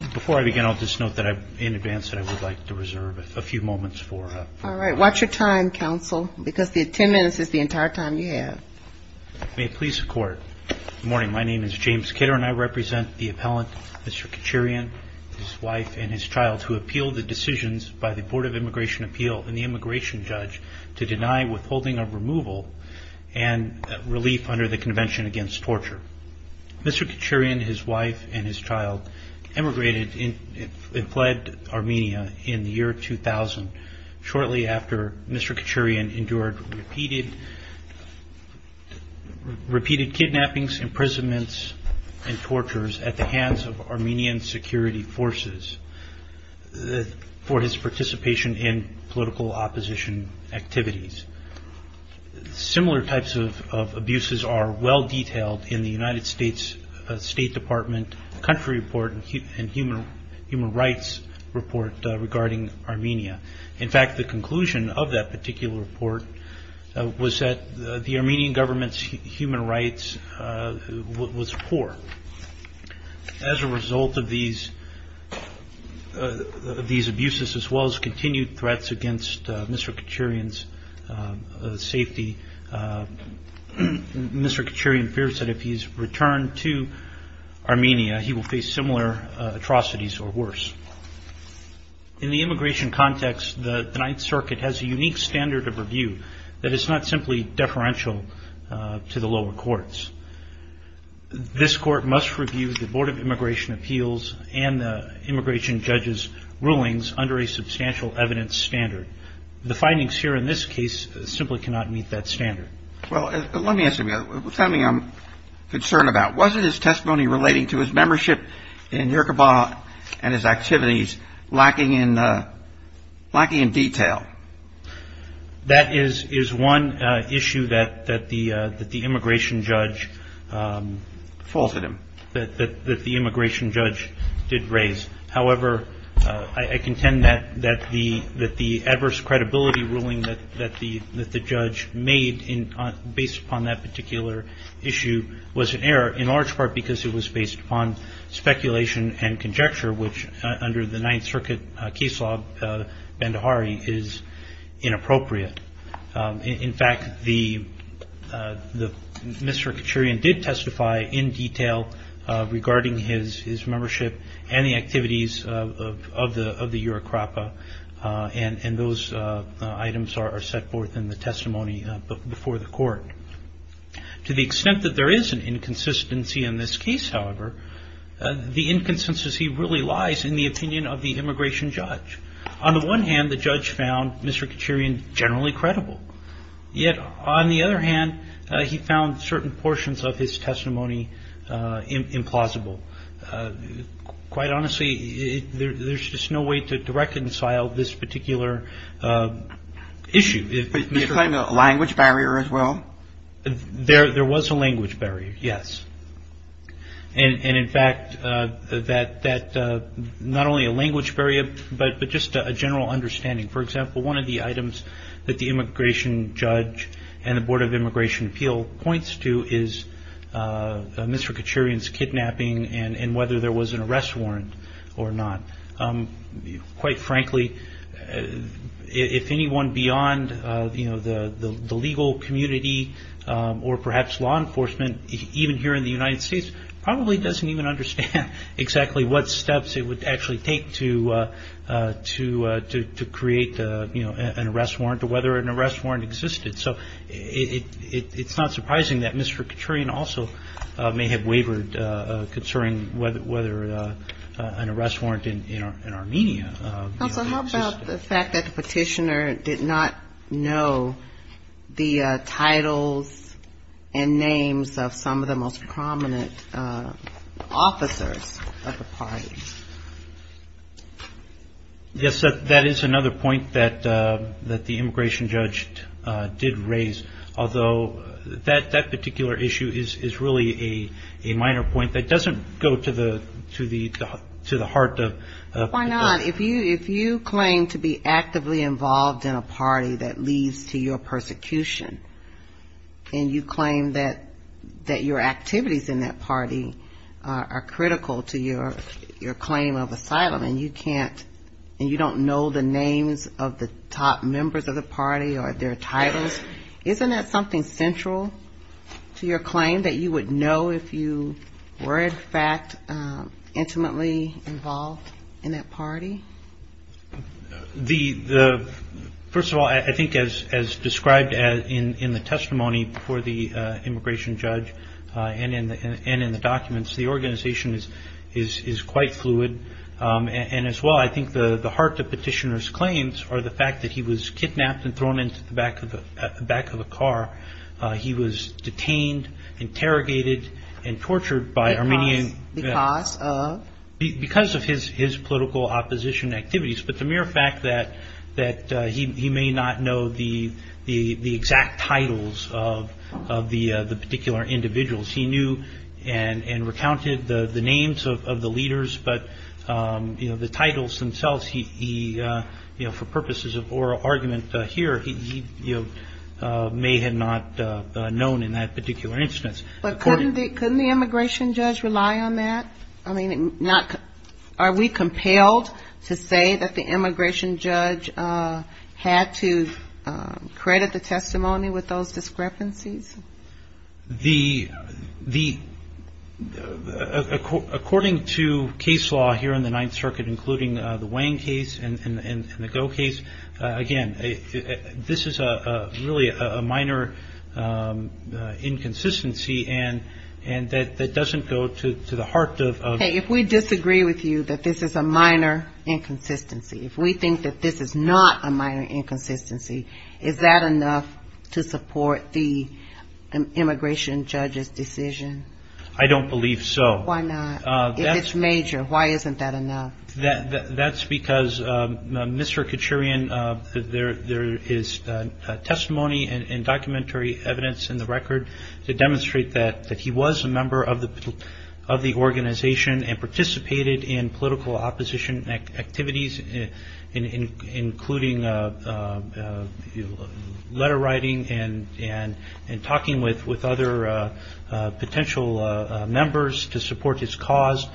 Before I begin, I'll just note in advance that I would like to reserve a few moments for... All right, watch your time, counsel, because the 10 minutes is the entire time you have. May it please the court. Good morning, my name is James Kidder and I represent the appellant, Mr. Kuchurian, his wife and his child, who appealed the decisions by the Board of Immigration Appeal and the immigration judge to deny withholding of removal and relief under the fled Armenia in the year 2000, shortly after Mr. Kuchurian endured repeated kidnappings, imprisonments, and tortures at the hands of Armenian security forces for his participation in political opposition activities. Similar types of abuses are well human rights report regarding Armenia. In fact, the conclusion of that particular report was that the Armenian government's human rights was poor. As a result of these abuses, as well as continued threats against Mr. Kuchurian's safety, Mr. Kuchurian fears that if he's returned to Armenia, he will face similar atrocities or worse. In the immigration context, the Ninth Circuit has a unique standard of review that is not simply deferential to the lower courts. This court must review the Board of Immigration Appeals and the immigration judge's rulings under a substantial evidence standard. The findings here in this case simply cannot meet that standard. Well, let me ask you something I'm concerned about. Was it his testimony relating to his membership in Yerkobah and his activities lacking in detail? That is one issue that the immigration judge did raise. However, I contend that the credibility ruling that the judge made based upon that particular issue was an error, in large part because it was based upon speculation and conjecture, which, under the Ninth Circuit case law, is inappropriate. In fact, Mr. Kuchurian did testify in detail regarding his membership and the activities of the Yerkobah, and those items are set forth in the testimony before the court. To the extent that there is an inconsistency in this case, however, the inconsistency really lies in the opinion of the immigration judge. On the one hand, the judge found Mr. Kuchurian generally credible. Yet, on the other hand, he found certain portions of his testimony implausible. Quite honestly, there's just no way to reconcile this particular issue. Do you claim a language barrier as well? There was a language barrier, yes. And, in fact, not only a language barrier, but just a general understanding. For example, one of the items that the immigration judge and the Board of Immigration Appeal points to is Mr. Kuchurian's kidnapping and whether there was an arrest warrant or not. Quite frankly, if anyone beyond the legal community or perhaps law enforcement, even here in the United States, probably doesn't even understand exactly what it is, it's not surprising that Mr. Kuchurian also may have wavered concerning whether an arrest warrant in Armenia existed. Counsel, how about the fact that the petitioner did not know the titles and names of some of the most prominent officers of the parties? Yes, that is another point that the immigration judge did raise. Although, that particular issue is really a minor point that doesn't go to the heart of the question. Why not? If you claim to be actively involved in a party that leads to your persecution, and you claim that your activities in that party are critical to your claim of asylum, and you can't, and you don't know the names of the top members of the party or their titles, isn't that something central to your claim that you would know if you were, in fact, intimately involved in that party? First of all, I think as described in the testimony before the immigration judge and in the documents, the organization is quite fluid. And as well, I think the heart of petitioner's claims are the fact that he was kidnapped and thrown into the back of a car. He was detained, interrogated, and tortured by Armenian because of his political opposition activities. But the mere fact that he may not know the exact titles of the particular individuals. He knew and recounted the names of the leaders, but the titles themselves, he, for purposes of oral argument here, he may have not known in that particular instance. But couldn't the immigration judge rely on that? I mean, are we compelled to say that the immigration judge had to credit the testimony with those discrepancies? The, the, according to case law here in the Ninth Circuit, including the Wang case and the Goh case, again, this is a really a minor inconsistency and that doesn't go to the heart of. Hey, if we disagree with you that this is a minor inconsistency, if we think that this is not a immigration judge's decision. I don't believe so. Why not? If it's major, why isn't that enough? That's because Mr. Kachurian, there is testimony and documentary evidence in the record to demonstrate that he was a member of the organization and participated in political talking with other potential members to support his cause.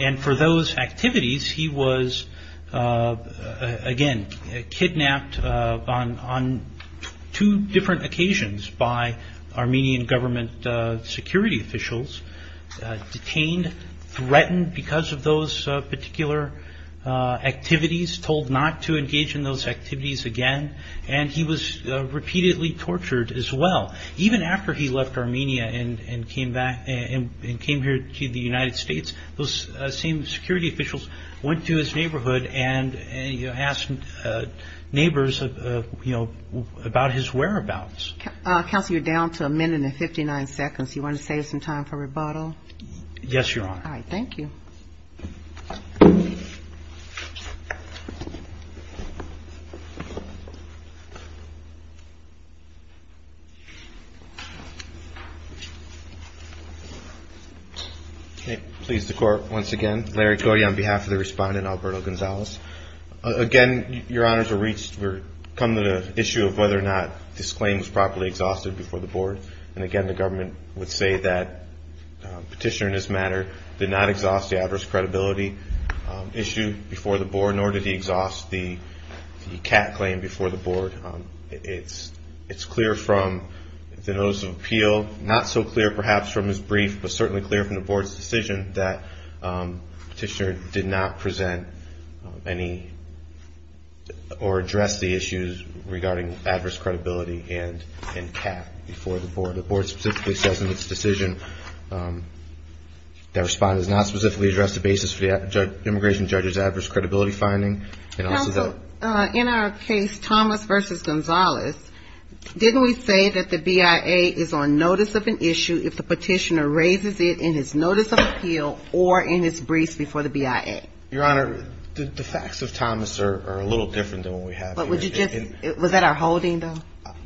And for those activities, he was again, kidnapped on two different occasions by Armenian government security officials, detained, threatened because of those particular activities, told not to engage in those after he left Armenia and came back and came here to the United States, those same security officials went to his neighborhood and asked neighbors, you know, about his whereabouts. Counselor, you're down to a minute and 59 seconds. You want to save some time for rebuttal? Yes, Your Honor. All right. Thank you. Okay. Please, the court, once again, Larry Cody on behalf of the respondent, Alberto Gonzalez. Again, Your Honors, we're coming to the issue of whether or not this claim was properly exhausted before the board. And again, the government would say that petitioner in this matter did not exhaust the adverse credibility issue before the board, nor did he exhaust the cat claim before the board. It's clear from the notice of appeal, not so clear perhaps from his brief, but certainly clear from the board's decision that petitioner did not present any or address the issues regarding adverse credibility and cat before the board. The board specifically says in its decision that respondent has not specifically addressed the basis for the immigration judge's adverse credibility finding. Counsel, in our case, Thomas versus Gonzalez, didn't we say that the BIA is on notice of an issue if the petitioner raises it in his notice of appeal or in his briefs before the BIA? Your Honor, the facts of Thomas are a little different than what we have here. But would you just, was that our holding though?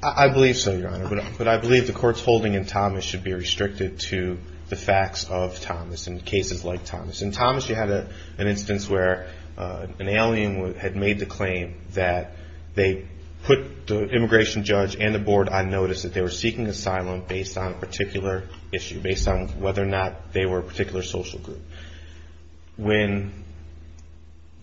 I believe so, Your Honor, but I believe the court's holding in Thomas should be restricted to the facts of Thomas and cases like Thomas. In Thomas, you had an instance where an alien had made the claim that they put the immigration judge and the board on notice that they were seeking asylum based on a particular issue, based on whether or not they were a particular social group. When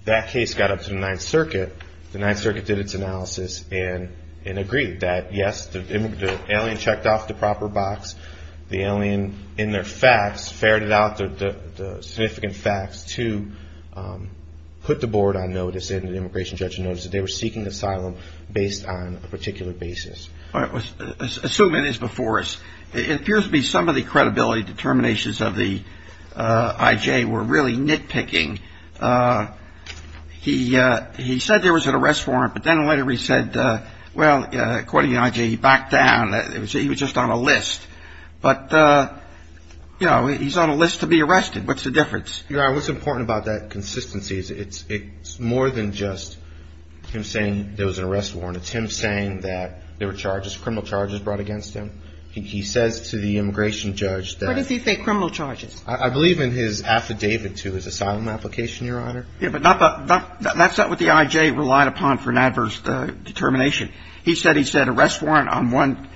that case got up to the Ninth Circuit, the Ninth Circuit did its analysis and agreed that yes, the alien checked off the proper box. The alien in their facts to put the board on notice and the immigration judge on notice that they were seeking asylum based on a particular basis. Assuming it is before us, it appears to be some of the credibility determinations of the IJ were really nitpicking. He said there was an arrest warrant, but then later he said, well, according to the IJ, he backed down. He was just on a list. But, you know, he's on a list to be arrested. What's the difference? Your Honor, what's important about that consistency is it's more than just him saying there was an arrest warrant. It's him saying that there were charges, criminal charges brought against him. He says to the immigration judge that What does he say, criminal charges? I believe in his affidavit to his asylum application, Your Honor. Yeah, but that's not what the IJ relied upon for an adverse determination. He said he said arrest warrant on one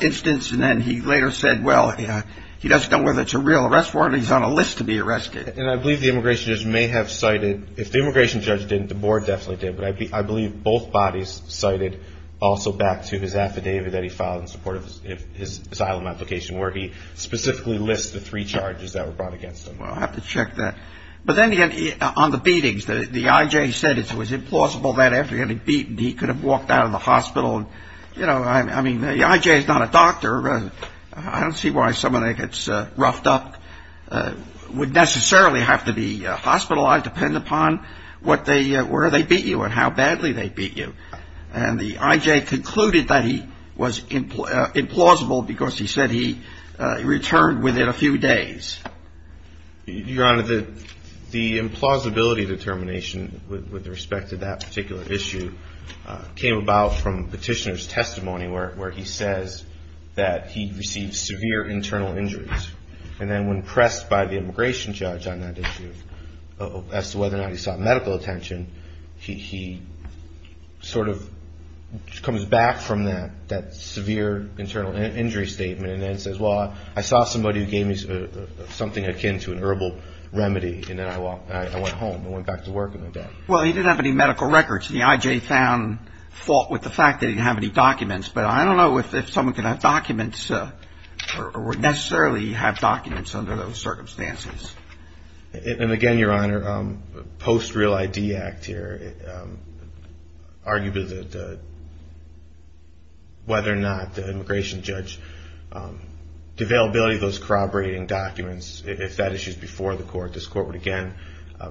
instance, and then he later said, well, he doesn't know whether it's a real arrest warrant or he's on a list to be arrested. And I believe the immigration judge may have cited, if the immigration judge didn't, the board definitely did. But I believe both bodies cited also back to his affidavit that he filed in support of his asylum application, where he specifically lists the three charges that were brought against him. Well, I'll have to check that. But then again, on the beatings, the IJ said it was implausible that after getting beaten, he could have walked out of the hospital. You know, I mean, the IJ is not a doctor. I don't see why someone that gets roughed up would necessarily have to be hospitalized, depending upon where they beat you and how badly they beat you. And the IJ concluded that he was implausible because he said he returned within a few days. Your Honor, the implausibility determination with respect to that particular issue came about from Petitioner's testimony, where he says that he received severe internal injuries. And then when pressed by the immigration judge on that issue as to whether or not he sought medical attention, he sort of comes back from that severe internal injury statement and then says, well, I saw somebody who gave me something akin to an herbal remedy, and then I went home. I went back to work and went back. Well, he didn't have any medical records. The IJ found fault with the fact that he didn't documents. But I don't know if someone can have documents or would necessarily have documents under those circumstances. And again, Your Honor, post-Real ID Act here, arguably whether or not the immigration judge, the availability of those corroborating documents, if that issue is before the court, this court would again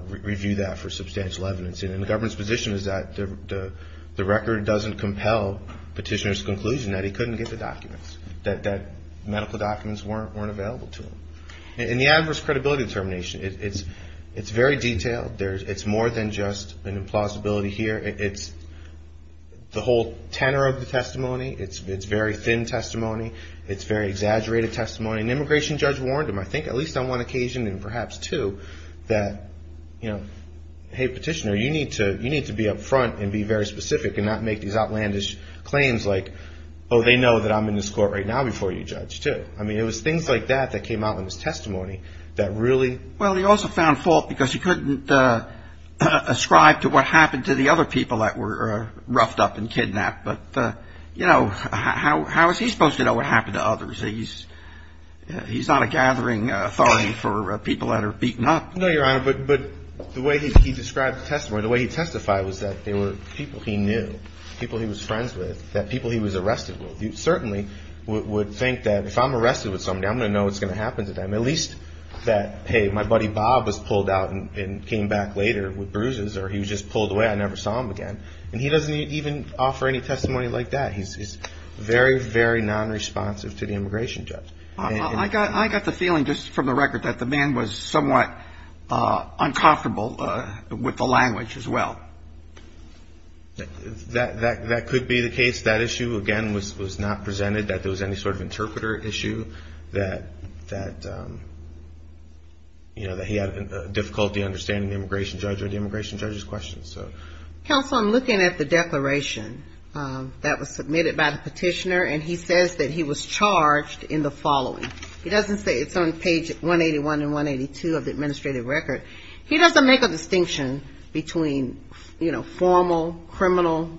review that for substantial evidence. And the government's position is that the record doesn't compel Petitioner's conclusion that he couldn't get the documents, that medical documents weren't available to him. And the adverse credibility determination, it's very detailed. It's more than just an implausibility here. It's the whole tenor of the testimony. It's very thin testimony. It's very exaggerated testimony. And the immigration judge warned him, I think at least on one occasion and perhaps two, that, you know, hey, Petitioner, you need to be up front and be very specific and not make these outlandish claims like, oh, they know that I'm in this court right now before you judge, too. I mean, it was things like that that came out in his testimony that really... Well, he also found fault because he couldn't ascribe to what happened to the other people that were roughed up and kidnapped. But, you know, how is he supposed to know what happened to others? He's not a gathering authority for people that are beaten up. No, Your Honor, but the way he described the testimony, the way he testified was that there were people he knew, people he was friends with, that people he was arrested with. You certainly would think that if I'm arrested with somebody, I'm going to know what's going to happen to them, at least that, hey, my buddy Bob was pulled out and came back later with bruises or he was just pulled away. I never saw him again. And he doesn't even offer any testimony like that. He's very, very non-responsive to the immigration judge. I got the feeling just from the record that the man was somewhat uncomfortable with the language as well. That could be the case. That issue, again, was not presented that there was any sort of interpreter issue that, you know, that he had difficulty understanding the immigration judge or the immigration judge's questions. Counsel, I'm looking at the declaration that was submitted by the petitioner, and he says that he was charged in the following. He doesn't say it's on page 181 and 182 of the administrative record. He doesn't make a distinction between, you know, formal criminal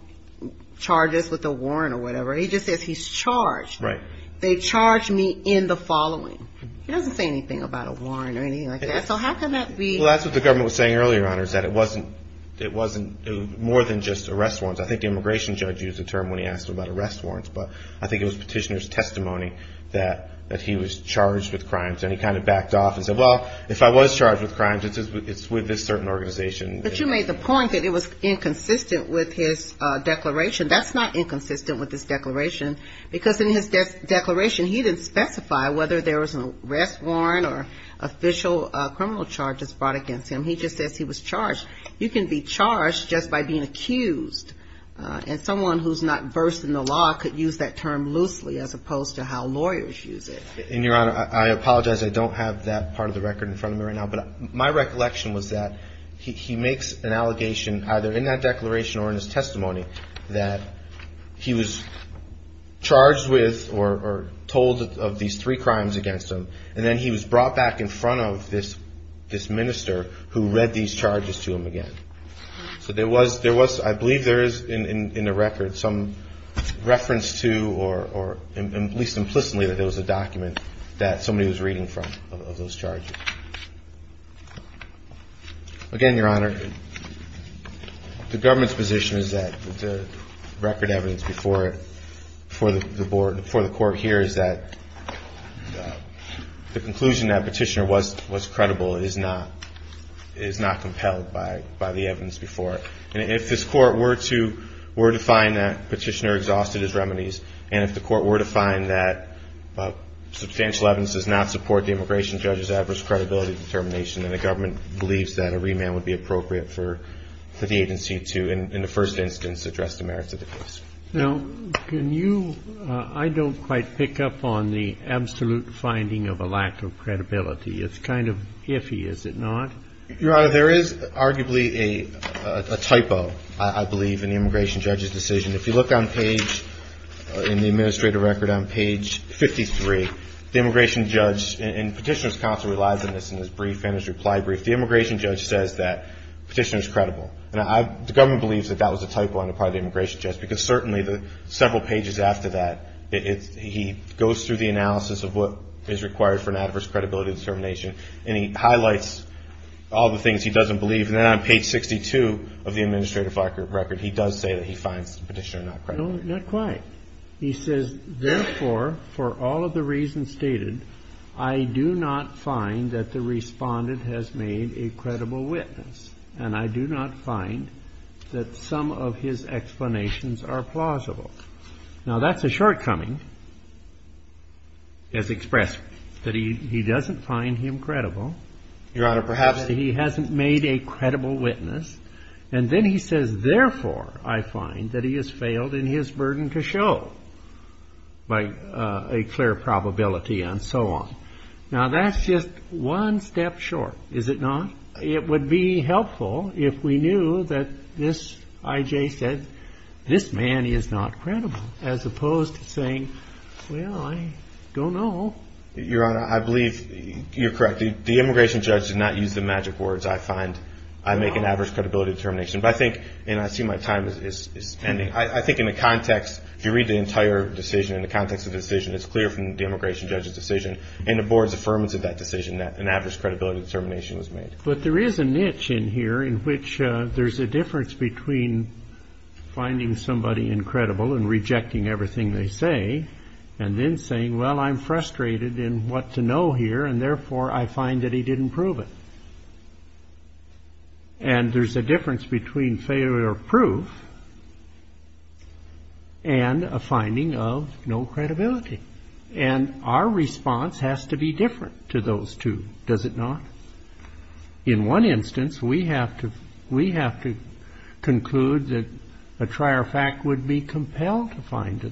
charges with a warrant or whatever. He just says he's charged. Right. They charged me in the following. He doesn't say anything about a warrant or anything like that. So how can that be? Well, that's what the government was saying earlier, Your Honor, is that it wasn't more than just arrest warrants. I think the immigration judge used the term when he asked about arrest warrants, but I think it was petitioner's testimony that he was charged with crimes, and he kind of backed off and said, well, if I was charged with crimes, it's with this certain organization. But you made the point that it was inconsistent with his declaration. That's not inconsistent with his declaration, because in his declaration, he didn't specify whether there was an arrest warrant or official criminal charges brought against him. He just says he was charged. You can be charged just by being accused, and someone who's not versed in the law could use that term loosely as opposed to how lawyers use it. And, Your Honor, I apologize. I don't have that part of the record in front of me right now. But my recollection was that he makes an allegation, either in that declaration or in his testimony, that he was charged with or told of these three crimes against him, and then he was brought back in front of this minister who read these charges to him again. So I believe there is, in the record, some reference to, or at least implicitly, that there was a document that somebody was reading from of those charges. Again, Your Honor, the government's position is that the record evidence before the court here is that the conclusion that Petitioner was credible is not compelled by the evidence before. And if this Court were to find that Petitioner exhausted his remedies, and if the Court were to find that substantial evidence does not support the immigration judge's adverse credibility determination, then the government believes that a remand would be appropriate for the agency to, in the first instance, address the merits of the case. Now, can you – I don't quite pick up on the absolute finding of a lack of credibility. It's kind of iffy, is it not? Your Honor, there is arguably a typo, I believe, in the immigration judge's decision. If you look on page – in the administrative record on page 53, the immigration judge – and Petitioner's counsel relies on this in his brief and his reply brief – the immigration judge says that Petitioner's credible. And I – the government believes that that was a typo on the part of the immigration judge, because certainly the several pages after that, it's – he goes through the analysis of what is required for an adverse credibility determination, and he does all the things he doesn't believe. And then on page 62 of the administrative record, he does say that he finds Petitioner not credible. No, not quite. He says, therefore, for all of the reasons stated, I do not find that the Respondent has made a credible witness, and I do not find that some of his explanations are plausible. Now, that's a shortcoming. Yes, express. That he doesn't find him credible. Your Honor, perhaps – He hasn't made a credible witness, and then he says, therefore, I find that he has failed in his burden to show by a clear probability and so on. Now, that's just one step short, is it not? It would be helpful if we knew that this – I.J. said, this man is not credible, as opposed to saying, well, I don't know. Your Honor, I believe you're correct. The immigration judge did not use the magic words, I find, I make an average credibility determination. But I think – and I see my time is ending – I think in the context, if you read the entire decision, in the context of the decision, it's clear from the immigration judge's decision and the board's affirmance of that decision that an average credibility determination was made. But there is a niche in here in which there's a difference between finding somebody incredible and rejecting everything they say, and then saying, well, I'm frustrated in what to know here, and therefore, I find that he didn't prove it. And there's a difference between failure of proof and a finding of no credibility. And our response has to be different to those two, does it not? In one instance, we have to conclude that a trier fact would be compelled to find to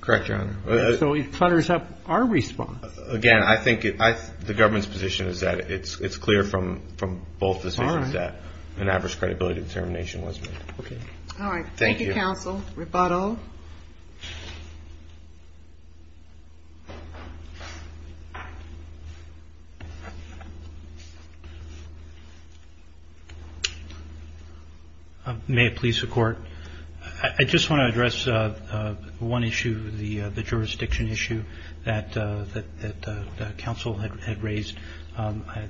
Correct, Your Honor. So it clutters up our response. Again, I think the government's position is that it's clear from both decisions that an average credibility determination was made. Okay. All right. Thank you, counsel. Rebuttal. May it please the Court. I just want to address one issue, the jurisdiction issue that counsel had raised.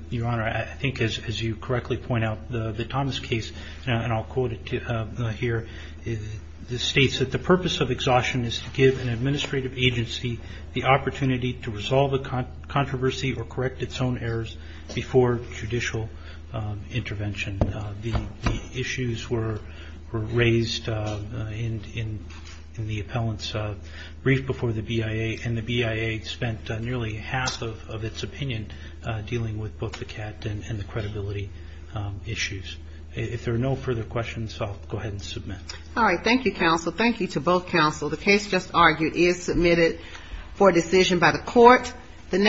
Your Honor, I think as you correctly point out, the Thomas case, and I'll quote it here, this states that the purpose of exhaustion is to give an administrative agency the opportunity to resolve a controversy or correct its own errors before judicial intervention. The issues were raised in the appellant's brief before the BIA, and the BIA spent nearly half of its opinion dealing with both the CAT and the credibility issues. If there are no further questions, I'll go ahead and submit. All right. Thank you, counsel. Thank you to both counsel. The case just argued is submitted for decision by the Court.